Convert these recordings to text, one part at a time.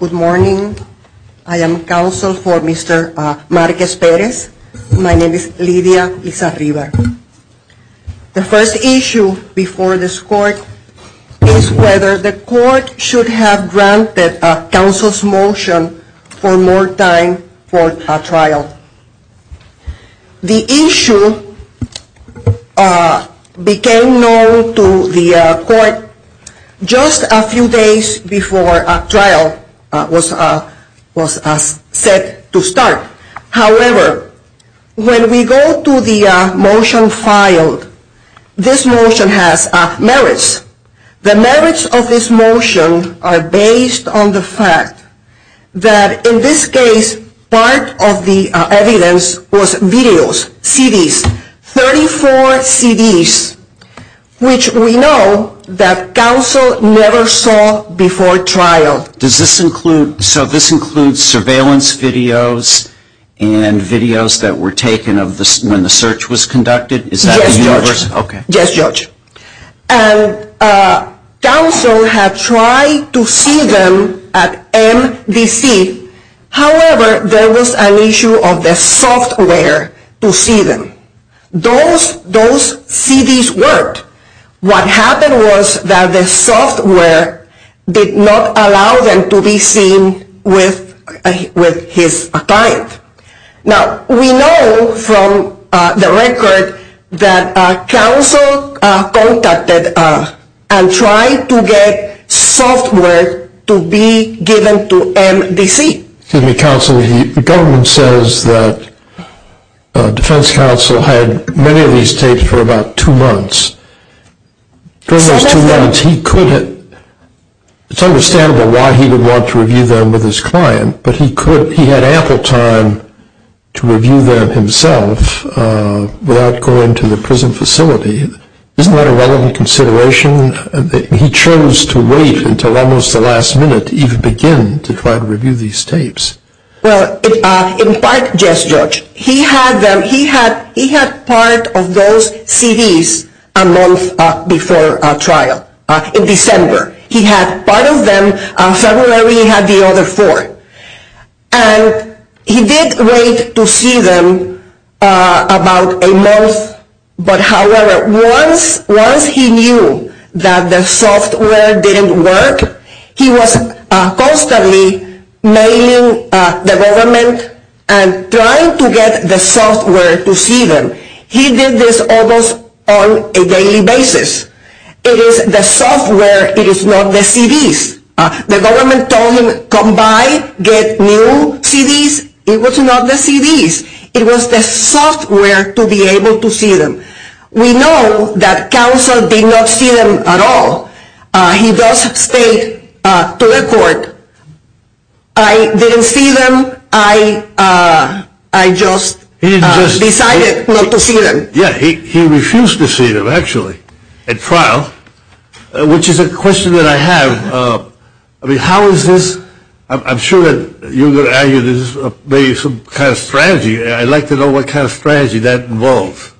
Good morning. I am counsel for Mr. Marquez-Perez. My name is Lidia Lizarribar. The first issue before this court is whether the court should have granted counsel's motion for more time for a trial. The issue became known to the court just a few days before a trial was set to start. However, when we go to the motion filed, this motion has merits. The merits of this motion are based on the fact that in this case, part of the evidence was videos, CDs, 34 CDs, which we know that counsel never saw before trial. So this includes surveillance videos and videos that were taken when the search was conducted? Yes, Judge. And counsel had tried to see them at MDC. However, there was an issue of the software to see them. Those CDs worked. What happened was that the software did not allow them to be seen with his client. Now, we know from the record that counsel contacted and tried to get software to be given to MDC. Excuse me, counsel. The government says that defense counsel had many of these tapes for about two months. During those two months, he could have... It's understandable why he would want to review them with his client, but he had ample time to review them himself without going to the prison facility. Isn't that a relevant consideration? He chose to wait until almost the last minute to even begin to try to review these tapes. Well, in part, yes, Judge. He had them. He had part of those CDs a month before trial in December. He had part of them in February. He had the other four. And he did wait to see them about a month. However, once he knew that the software didn't work, he was constantly mailing the government and trying to get the software to see them. He did this almost on a daily basis. It is the software. It is not the CDs. The government told him, come by, get new CDs. It was not the CDs. It was the software to be able to see them. We know that counsel did not see them at all. He does state to the court, I didn't see them. I just decided not to see them. He refused to see them, actually, at trial, which is a question that I have. How is this? I'm sure you're going to argue this is some kind of strategy. I'd like to know what kind of strategy that involves.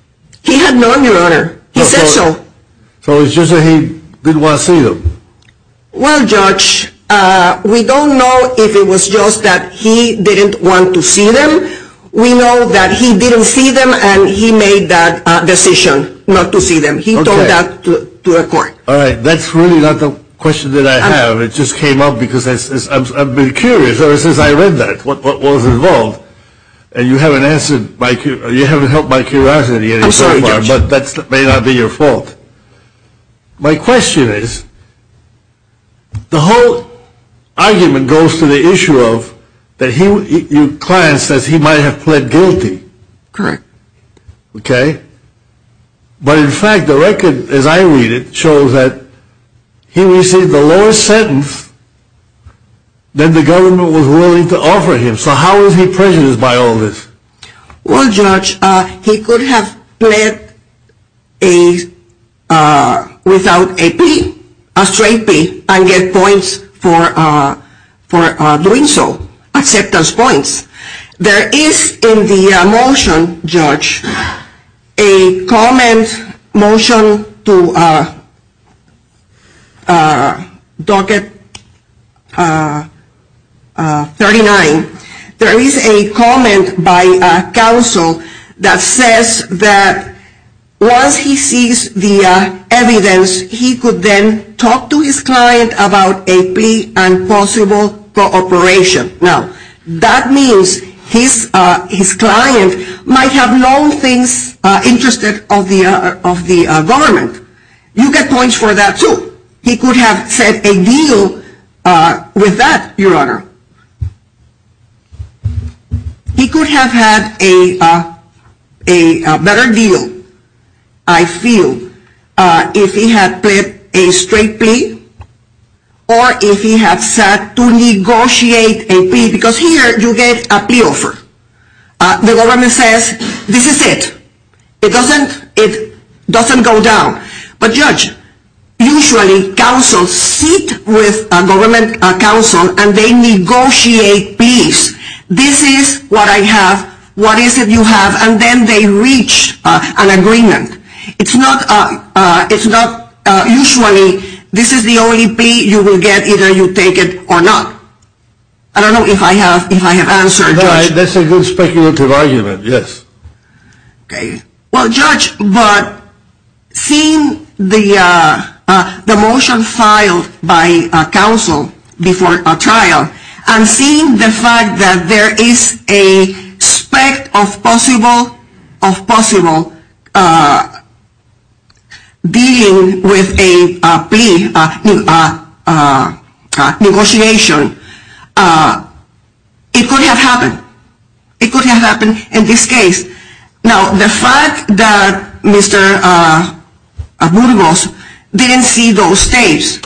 He had none, Your Honor. He said so. So it's just that he didn't want to see them? Well, Judge, we don't know if it was just that he didn't want to see them. We know that he didn't see them and he made that decision not to see them. He told that to the court. All right. That's really not the question that I have. It just came up because I've been curious ever since I read that, what was involved. And you haven't answered, you haven't helped my curiosity. I'm sorry, Judge. But that may not be your fault. My question is, the whole argument goes to the issue of that your client says he might have pled guilty. Correct. Okay. But in fact, the record, as I read it, shows that he received the lowest sentence that the government was willing to offer him. So how is he prejudiced by all this? Well, Judge, he could have pled without a plea, a straight plea, and get points for doing so, acceptance points. There is in the motion, Judge, a comment, motion to docket 39. There is a comment by counsel that says that once he sees the evidence, he could then talk to his client about a plea and possible cooperation. Now, that means his client might have known things interested of the government. You get points for that, too. He could have set a deal with that, Your Honor. He could have had a better deal, I feel, if he had pled a straight plea or if he had set to negotiate a plea. Because here, you get a plea offer. The government says, this is it. It doesn't go down. But, Judge, usually, counsels sit with a government counsel and they negotiate pleas. This is what I have. What is it you have? And then they reach an agreement. It's not usually this is the only plea you will get, either you take it or not. I don't know if I have answered, Judge. That's a good speculative argument, yes. Well, Judge, but seeing the motion filed by counsel before a trial and seeing the fact that there is a spec of possible dealing with a plea negotiation, it could have happened. It could have happened in this case. Now, the fact that Mr. Burgos didn't see those tapes,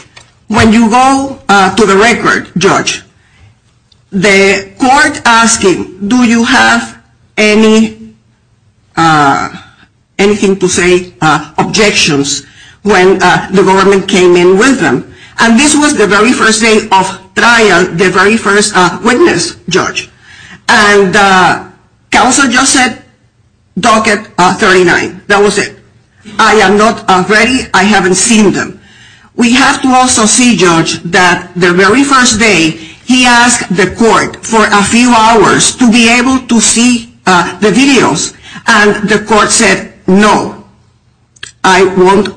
when you go to the record, Judge, the court asking, do you have anything to say, objections, when the government came in with them. And this was the very first day of trial, the very first witness, Judge. And counsel just said, docket 39. That was it. I am not ready. I haven't seen them. We have to also see, Judge, that the very first day, he asked the court for a few hours to be able to see the videos. And the court said, no. I won't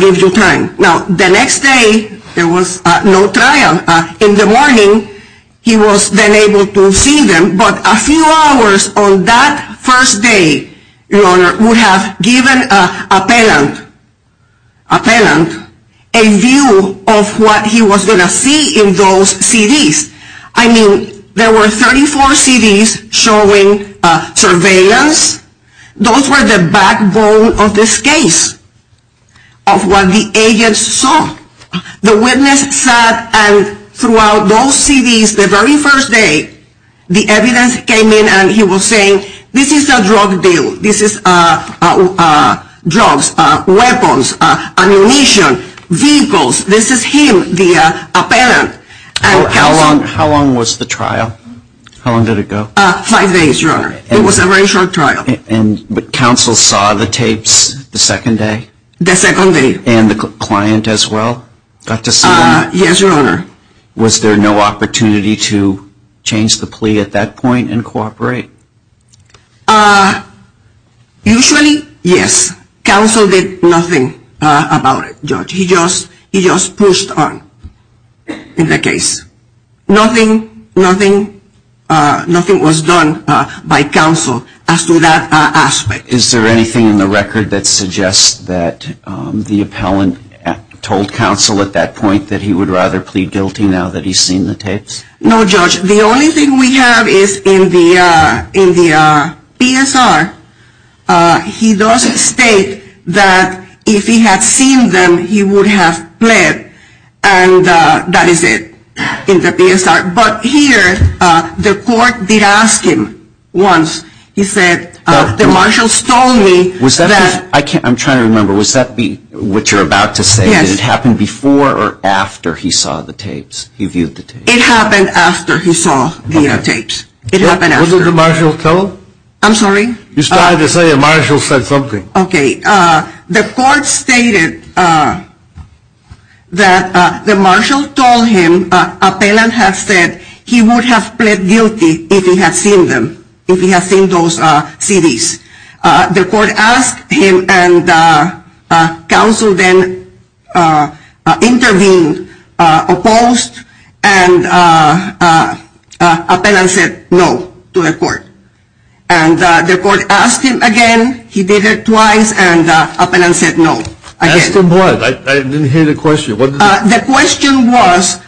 give you time. Now, the next day, there was no trial. In the morning, he was then able to see them. But a few hours on that first day, Your Honor, would have given an appellant a view of what he was going to see in those CDs. I mean, there were 34 CDs showing surveillance. Those were the backbone of this case, of what the agents saw. The witness sat, and throughout those CDs, the very first day, the evidence came in, and he was saying, this is a drug deal. This is drugs, weapons, ammunition, vehicles. This is him, the appellant. How long was the trial? Five days, Your Honor. It was a very short trial. But counsel saw the tapes the second day? The second day. And the client as well? Yes, Your Honor. Was there no opportunity to change the plea at that point and cooperate? Usually, yes. Counsel did nothing about it, Judge. He just pushed on in the case. Nothing was done by counsel as to that aspect. Is there anything in the record that suggests that the appellant told counsel at that point that he would rather plead guilty now that he's seen the tapes? No, Judge. The only thing we have is in the PSR, he does state that if he had seen them, he would have pled. And that is it in the PSR. But here, the court did ask him once. He said, the marshal stole me. I'm trying to remember. Was that what you're about to say? Did it happen before or after he saw the tapes? He viewed the tapes. It happened after he saw the tapes. It happened after. Wasn't the marshal told? I'm sorry? You started to say the marshal said something. Okay. The court stated that the marshal told him, appellant had said, he would have pled guilty if he had seen them, if he had seen those CDs. The court asked him, and counsel then intervened, opposed, and appellant said no to the court. And the court asked him again. He did it twice, and appellant said no. Ask him what? I didn't hear the question. The question was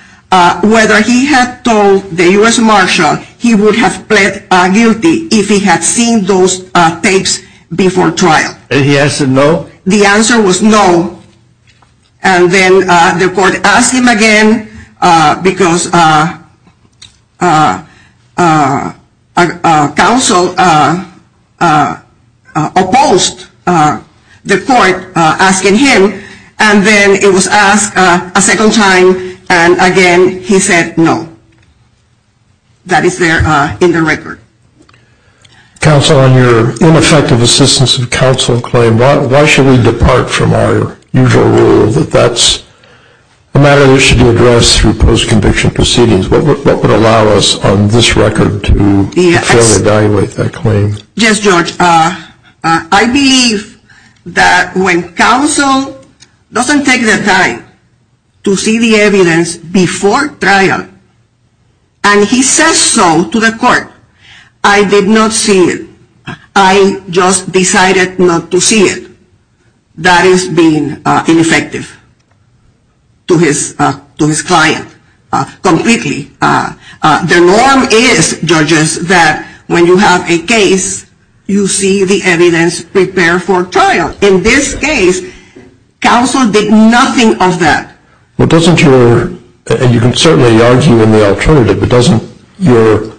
whether he had told the U.S. marshal he would have pled guilty if he had seen those tapes before trial. And he said no? The answer was no. And then the court asked him again because counsel opposed the court asking him, and then it was asked a second time, and again he said no. That is there in the record. Counsel, on your ineffective assistance of counsel claim, why should we depart from our usual rule that that's a matter that should be addressed through post-conviction proceedings? What would allow us on this record to fairly evaluate that claim? Yes, George. I believe that when counsel doesn't take the time to see the evidence before trial, and he says so to the court, I did not see it. I just decided not to see it. That is being ineffective to his client completely. The norm is, judges, that when you have a case, you see the evidence prepared for trial. In this case, counsel did nothing of that. Well, doesn't your, and you can certainly argue in the alternative, but doesn't your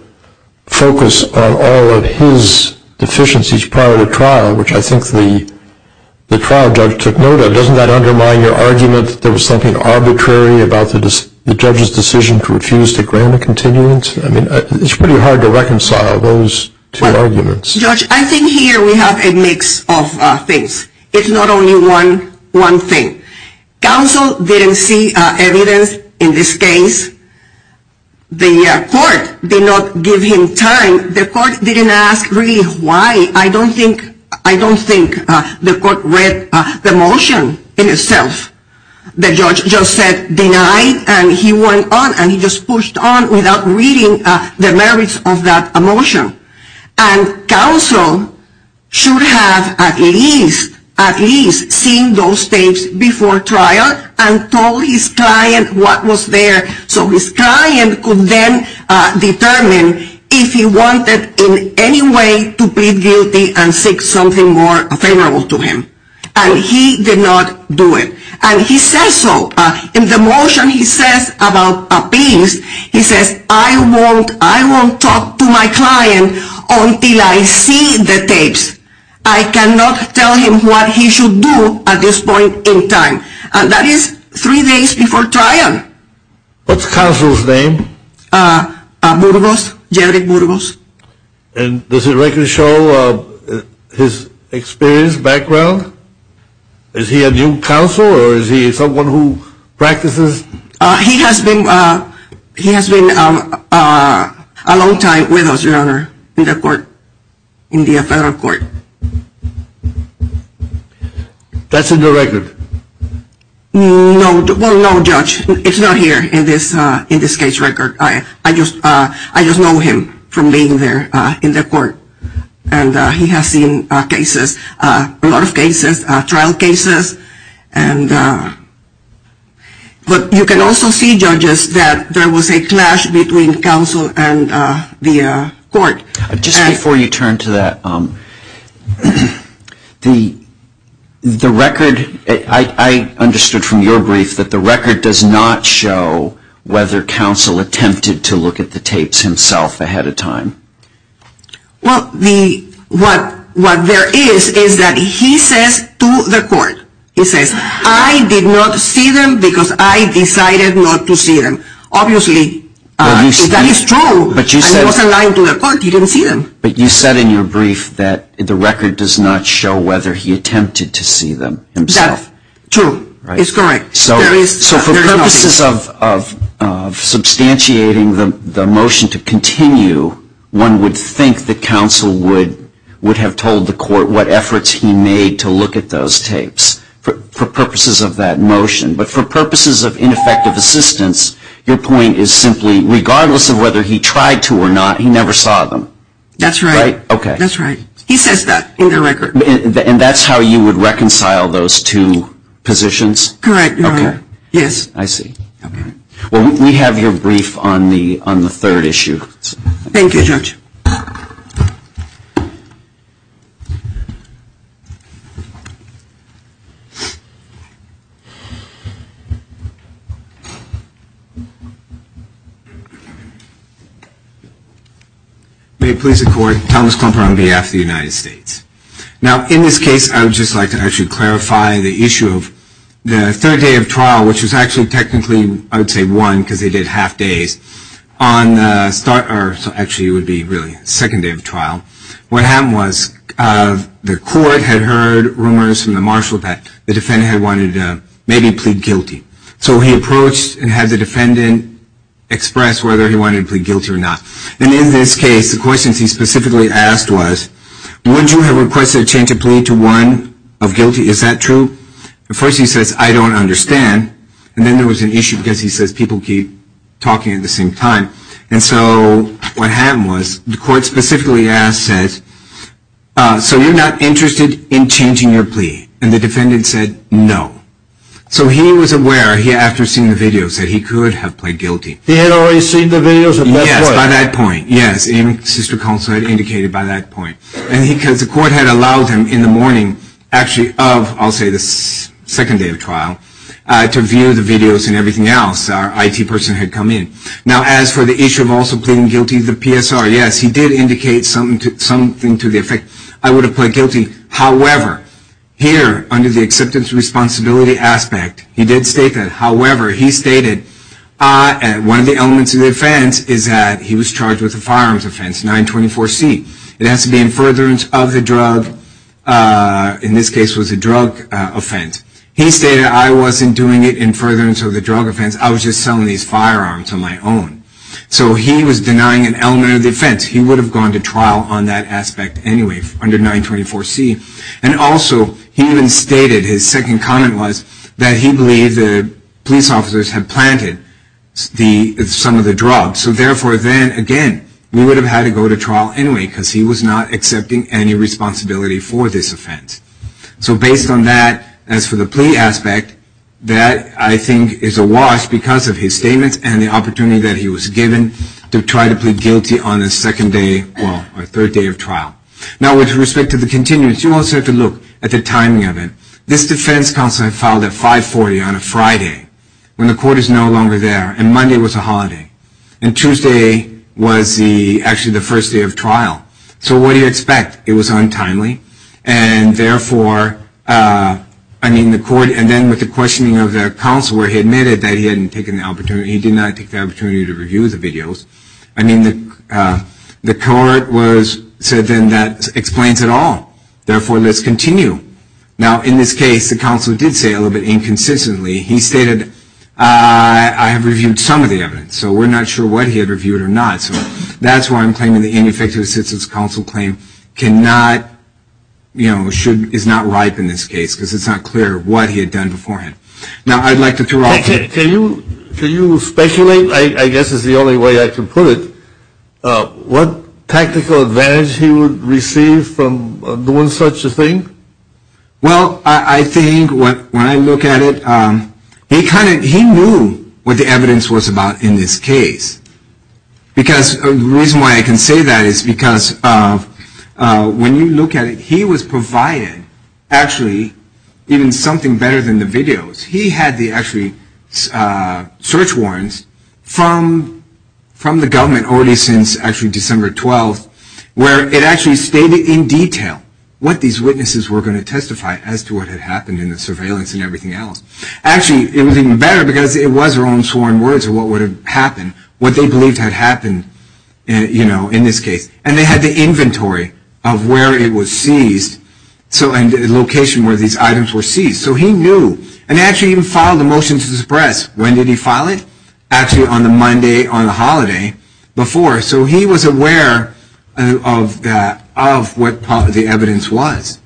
focus on all of his deficiencies prior to trial, which I think the trial judge took note of, doesn't that undermine your argument that there was something arbitrary about the judge's decision to refuse to grant a continuance? I mean, it's pretty hard to reconcile those two arguments. Well, George, I think here we have a mix of things. It's not only one thing. Counsel didn't see evidence in this case. The court did not give him time. The court didn't ask really why. I don't think the court read the motion in itself. The judge just said denied, and he went on, and he just pushed on without reading the merits of that motion. And counsel should have at least seen those tapes before trial and told his client what was there, so his client could then determine if he wanted in any way to plead guilty and seek something more favorable to him. And he did not do it. And he says so. In the motion he says about appeals, he says, I won't talk to my client until I see the tapes. I cannot tell him what he should do at this point in time. And that is three days before trial. What's counsel's name? Burgos, Jerry Burgos. And does the record show his experience, background? Is he a new counsel, or is he someone who practices? He has been a long time with us, Your Honor, in the court, in the federal court. That's in the record. No, well, no, Judge. It's not here in this case record. I just know him from being there in the court. And he has seen cases, a lot of cases, trial cases. But you can also see, Judges, that there was a clash between counsel and the court. Just before you turn to that, the record, I understood from your brief that the record does not show whether counsel attempted to look at the tapes himself ahead of time. Well, what there is, is that he says to the court, he says, I did not see them because I decided not to see them. Obviously, that is true, and he wasn't lying to the court. He didn't see them. But you said in your brief that the record does not show whether he attempted to see them himself. That's true. It's correct. So for purposes of substantiating the motion to continue, one would think that counsel would have told the court what efforts he made to look at those tapes for purposes of that motion. But for purposes of ineffective assistance, your point is simply, regardless of whether he tried to or not, he never saw them. That's right. Okay. That's right. He says that in the record. And that's how you would reconcile those two positions? Correct, Your Honor. Okay. Yes. I see. Okay. Well, we have your brief on the third issue. Thank you, Judge. May it please the Court, Thomas Klumper on behalf of the United States. Now, in this case, I would just like to actually clarify the issue of the third day of trial, which was actually technically, I would say, one because they did half days. On the start, or actually it would be really second day of trial, what happened was the court had heard rumors from the marshal that the defendant had wanted to maybe plead guilty. So he approached and had the defendant express whether he wanted to plead guilty or not. And in this case, the questions he specifically asked was, would you have requested a change of plea to one of guilty? Is that true? At first he says, I don't understand. And then there was an issue because he says people keep talking at the same time. And so what happened was the court specifically asked, says, so you're not interested in changing your plea? And the defendant said, no. So he was aware, after seeing the videos, that he could have pled guilty. He had already seen the videos? Yes, by that point. Yes. And sister counsel had indicated by that point. And because the court had allowed him in the morning, actually of, I'll say, the second day of trial, to view the videos and everything else, our IT person had come in. Now, as for the issue of also pleading guilty, the PSR, yes, he did indicate something to the effect, I would have pled guilty. However, here, under the acceptance responsibility aspect, he did state that. However, he stated one of the elements of the offense is that he was charged with a firearms offense, 924C. It has to be in furtherance of the drug. In this case, it was a drug offense. He stated, I wasn't doing it in furtherance of the drug offense. I was just selling these firearms on my own. So he was denying an element of the offense. He would have gone to trial on that aspect anyway, under 924C. And also, he even stated, his second comment was, that he believed the police officers had planted some of the drugs. So therefore, then, again, we would have had to go to trial anyway, because he was not accepting any responsibility for this offense. So based on that, as for the plea aspect, that, I think, is awash because of his statements and the opportunity that he was given to try to plead guilty on the second day, well, or third day of trial. Now, with respect to the continuance, you also have to look at the timing of it. This defense counsel had filed at 540 on a Friday, when the court is no longer there, and Monday was a holiday. And Tuesday was actually the first day of trial. So what do you expect? It was untimely. And therefore, I mean, the court, and then with the questioning of the counsel, where he admitted that he hadn't taken the opportunity, he did not take the opportunity to review the videos. I mean, the court said, then, that explains it all. Therefore, let's continue. Now, in this case, the counsel did say, a little bit inconsistently, he stated, I have reviewed some of the evidence. So we're not sure what he had reviewed or not. So that's why I'm claiming the ineffective assistance counsel claim cannot, you know, is not ripe in this case, because it's not clear what he had done beforehand. Now, I'd like to throw out to you. Can you speculate, I guess is the only way I can put it, what tactical advantage he would receive from doing such a thing? Well, I think when I look at it, he knew what the evidence was about in this case. Because the reason why I can say that is because when you look at it, he was provided, actually, even something better than the videos. He had the, actually, search warrants from the government already since, actually, December 12th, where it actually stated in detail what these witnesses were going to testify as to what had happened in the surveillance and everything else. Actually, it was even better, because it was their own sworn words of what would have happened, what they believed had happened, you know, in this case. And they had the inventory of where it was seized and the location where these items were seized. So he knew. And he actually even filed a motion to suppress. When did he file it? Actually, on the Monday on the holiday before. So he was aware of what the evidence was.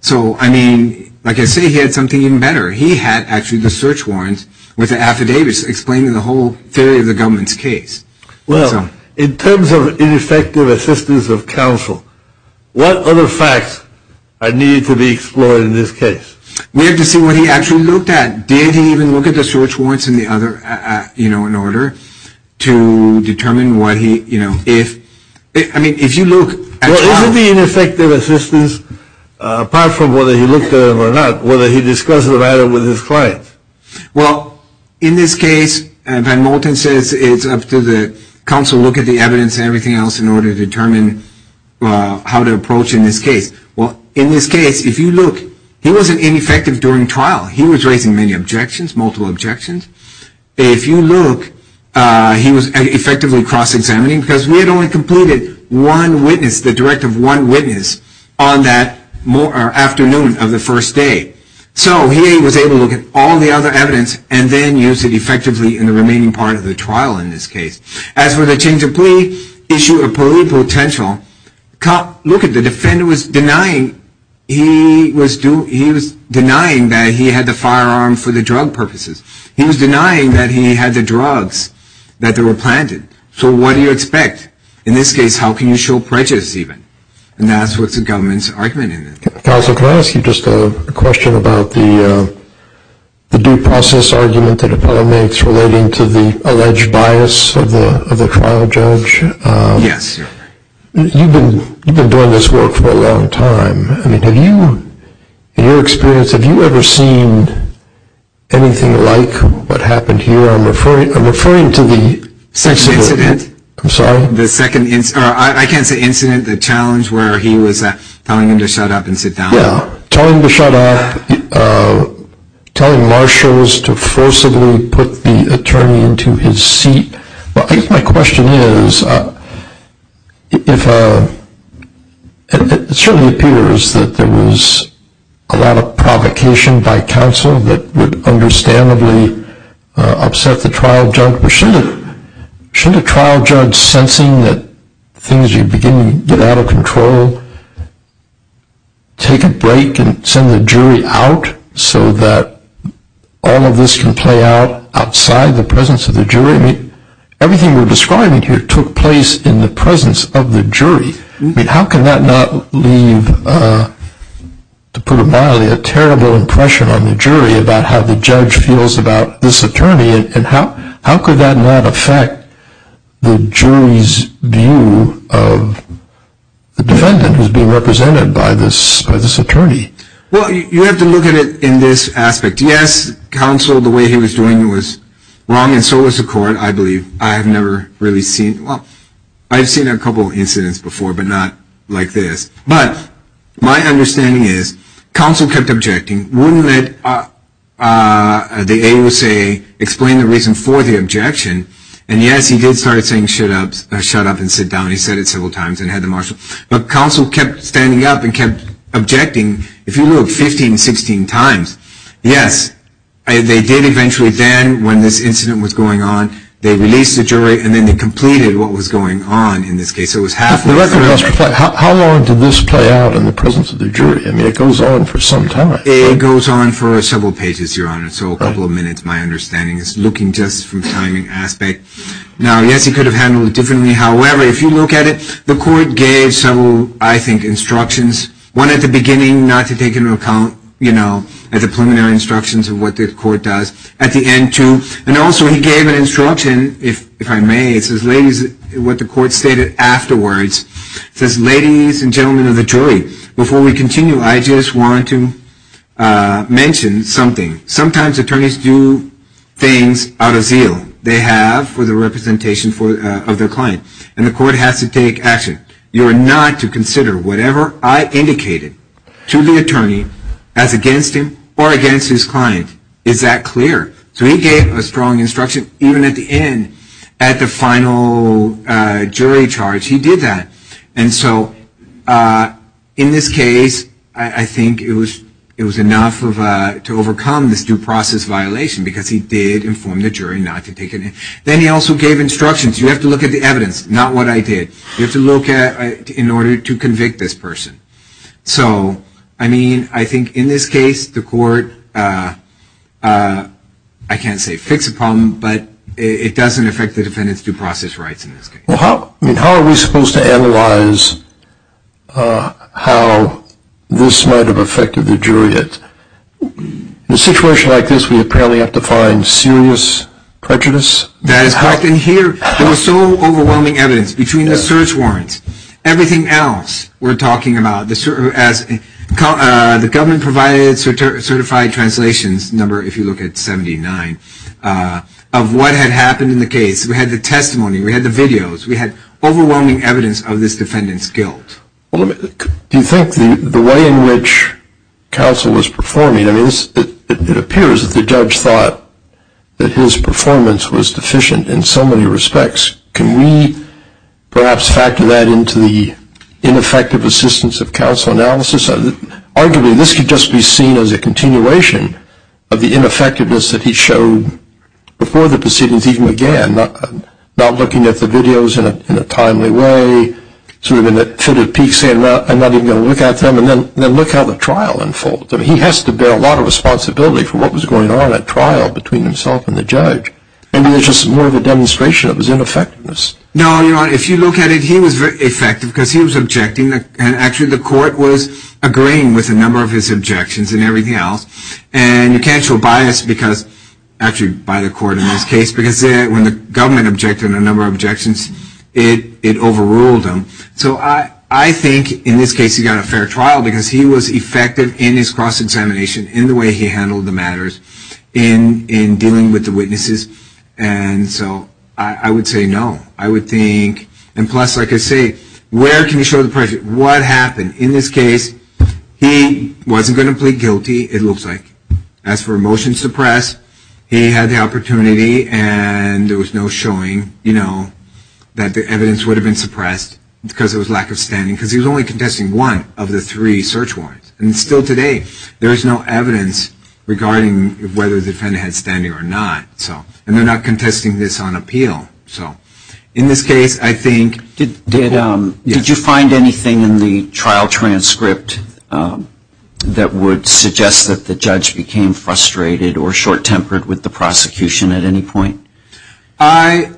So, I mean, like I say, he had something even better. He had, actually, the search warrants with the affidavits explaining the whole theory of the government's case. Well, in terms of ineffective assistance of counsel, what other facts are needed to be explored in this case? We have to see what he actually looked at. Did he even look at the search warrants and the other, you know, in order to determine what he, you know, if. I mean, if you look. Well, isn't the ineffective assistance, apart from whether he looked at it or not, whether he discussed the matter with his clients? Well, in this case, Van Molten says it's up to the counsel to look at the evidence and everything else in order to determine how to approach in this case. Well, in this case, if you look, he wasn't ineffective during trial. He was raising many objections, multiple objections. If you look, he was effectively cross-examining because we had only completed one witness, the direct of one witness, on that afternoon of the first day. So he was able to look at all the other evidence and then use it effectively in the remaining part of the trial in this case. As for the change of plea, issue of plea potential, look at the defendant was denying. He was denying that he had the firearm for the drug purposes. He was denying that he had the drugs, that they were planted. So what do you expect? In this case, how can you show prejudice even? And that's what the government's argument is. Counsel, can I ask you just a question about the due process argument that Apollo makes relating to the alleged bias of the trial judge? Yes. You've been doing this work for a long time. I mean, have you, in your experience, have you ever seen anything like what happened here? I'm referring to the second incident. I'm sorry? I can't say incident. The challenge where he was telling him to shut up and sit down. Yeah. Telling him to shut up. Telling marshals to forcibly put the attorney into his seat. I guess my question is, it certainly appears that there was a lot of provocation by counsel that would understandably upset the trial judge. But shouldn't a trial judge sensing that things are beginning to get out of control take a break and send the jury out so that all of this can play out outside the presence of the jury? I mean, everything you're describing here took place in the presence of the jury. I mean, how can that not leave, to put it mildly, a terrible impression on the jury about how the judge feels about this attorney? And how could that not affect the jury's view of the defendant who's being represented by this attorney? Well, you have to look at it in this aspect. Yes, counsel, the way he was doing it was wrong, and so was the court, I believe. I have never really seen, well, I've seen a couple of incidents before, but not like this. But my understanding is counsel kept objecting, wouldn't let the AUSA explain the reason for the objection. And yes, he did start saying shut up and sit down. He said it several times and had the marshal. But counsel kept standing up and kept objecting, if you look, 15, 16 times. Yes, they did eventually then, when this incident was going on, they released the jury, and then they completed what was going on in this case. How long did this play out in the presence of the jury? I mean, it goes on for some time. It goes on for several pages, Your Honor. So a couple of minutes, my understanding is, looking just from the timing aspect. Now, yes, he could have handled it differently. However, if you look at it, the court gave several, I think, instructions. One at the beginning, not to take into account, you know, the preliminary instructions of what the court does. And also, he gave an instruction, if I may, what the court stated afterwards. It says, ladies and gentlemen of the jury, before we continue, I just want to mention something. Sometimes attorneys do things out of zeal. They have for the representation of their client, and the court has to take action. You are not to consider whatever I indicated to the attorney as against him or against his client. Is that clear? So he gave a strong instruction. Even at the end, at the final jury charge, he did that. And so in this case, I think it was enough to overcome this due process violation, because he did inform the jury not to take it in. Then he also gave instructions. You have to look at the evidence, not what I did. You have to look at it in order to convict this person. So, I mean, I think in this case, the court, I can't say fixed the problem, but it doesn't affect the defendant's due process rights in this case. Well, how are we supposed to analyze how this might have affected the jury? In a situation like this, we apparently have to find serious prejudice. That is correct. And here, there was so overwhelming evidence. Between the search warrants, everything else we're talking about, the government-provided certified translations number, if you look at 79, of what had happened in the case. We had the testimony. We had the videos. We had overwhelming evidence of this defendant's guilt. Do you think the way in which counsel was performing, I mean, it appears that the judge thought that his performance was deficient in so many respects. Can we perhaps factor that into the ineffective assistance of counsel analysis? Arguably, this could just be seen as a continuation of the ineffectiveness that he showed before the proceedings even began. Not looking at the videos in a timely way, sort of in a fitted peak, saying I'm not even going to look at them, and then look how the trial unfolded. I mean, he has to bear a lot of responsibility for what was going on at trial between himself and the judge. Maybe it's just more of a demonstration of his ineffectiveness. No, Your Honor. If you look at it, he was very effective because he was objecting, and actually the court was agreeing with a number of his objections and everything else. And you can't show bias because, actually by the court in this case, because when the government objected on a number of objections, it overruled them. So I think in this case he got a fair trial because he was effective in his cross-examination, in the way he handled the matters, in dealing with the witnesses. And so I would say no. I would think, and plus, like I say, where can you show the prejudice? What happened? In this case, he wasn't going to plead guilty, it looks like. As for a motion to suppress, he had the opportunity and there was no showing, you know, that the evidence would have been suppressed because there was lack of standing because he was only contesting one of the three search warrants. And still today, there is no evidence regarding whether the defendant had standing or not. And they're not contesting this on appeal. So in this case, I think... Did you find anything in the trial transcript that would suggest that the judge became frustrated or short-tempered with the prosecution at any point? I...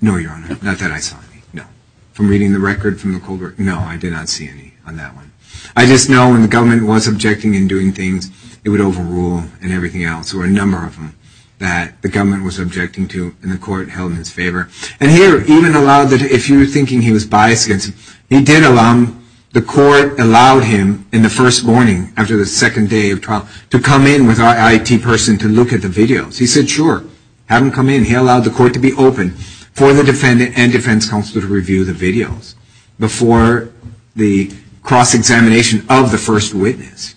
No, Your Honor, not that I saw anything, no. From reading the record from the cold record? No, I did not see any on that one. I just know when the government was objecting and doing things, it would overrule and everything else, or a number of them, that the government was objecting to and the court held in its favor. And here, even allowed, if you were thinking he was biased against him, he did allow him, the court allowed him in the first morning after the second day of trial to come in with our IT person to look at the videos. He said, sure, have him come in. He allowed the court to be open for the defendant and defense counsel to review the videos before the cross-examination of the first witness.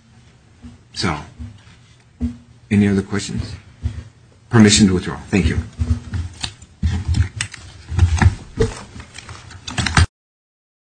So, any other questions? Permission to withdraw. Thank you.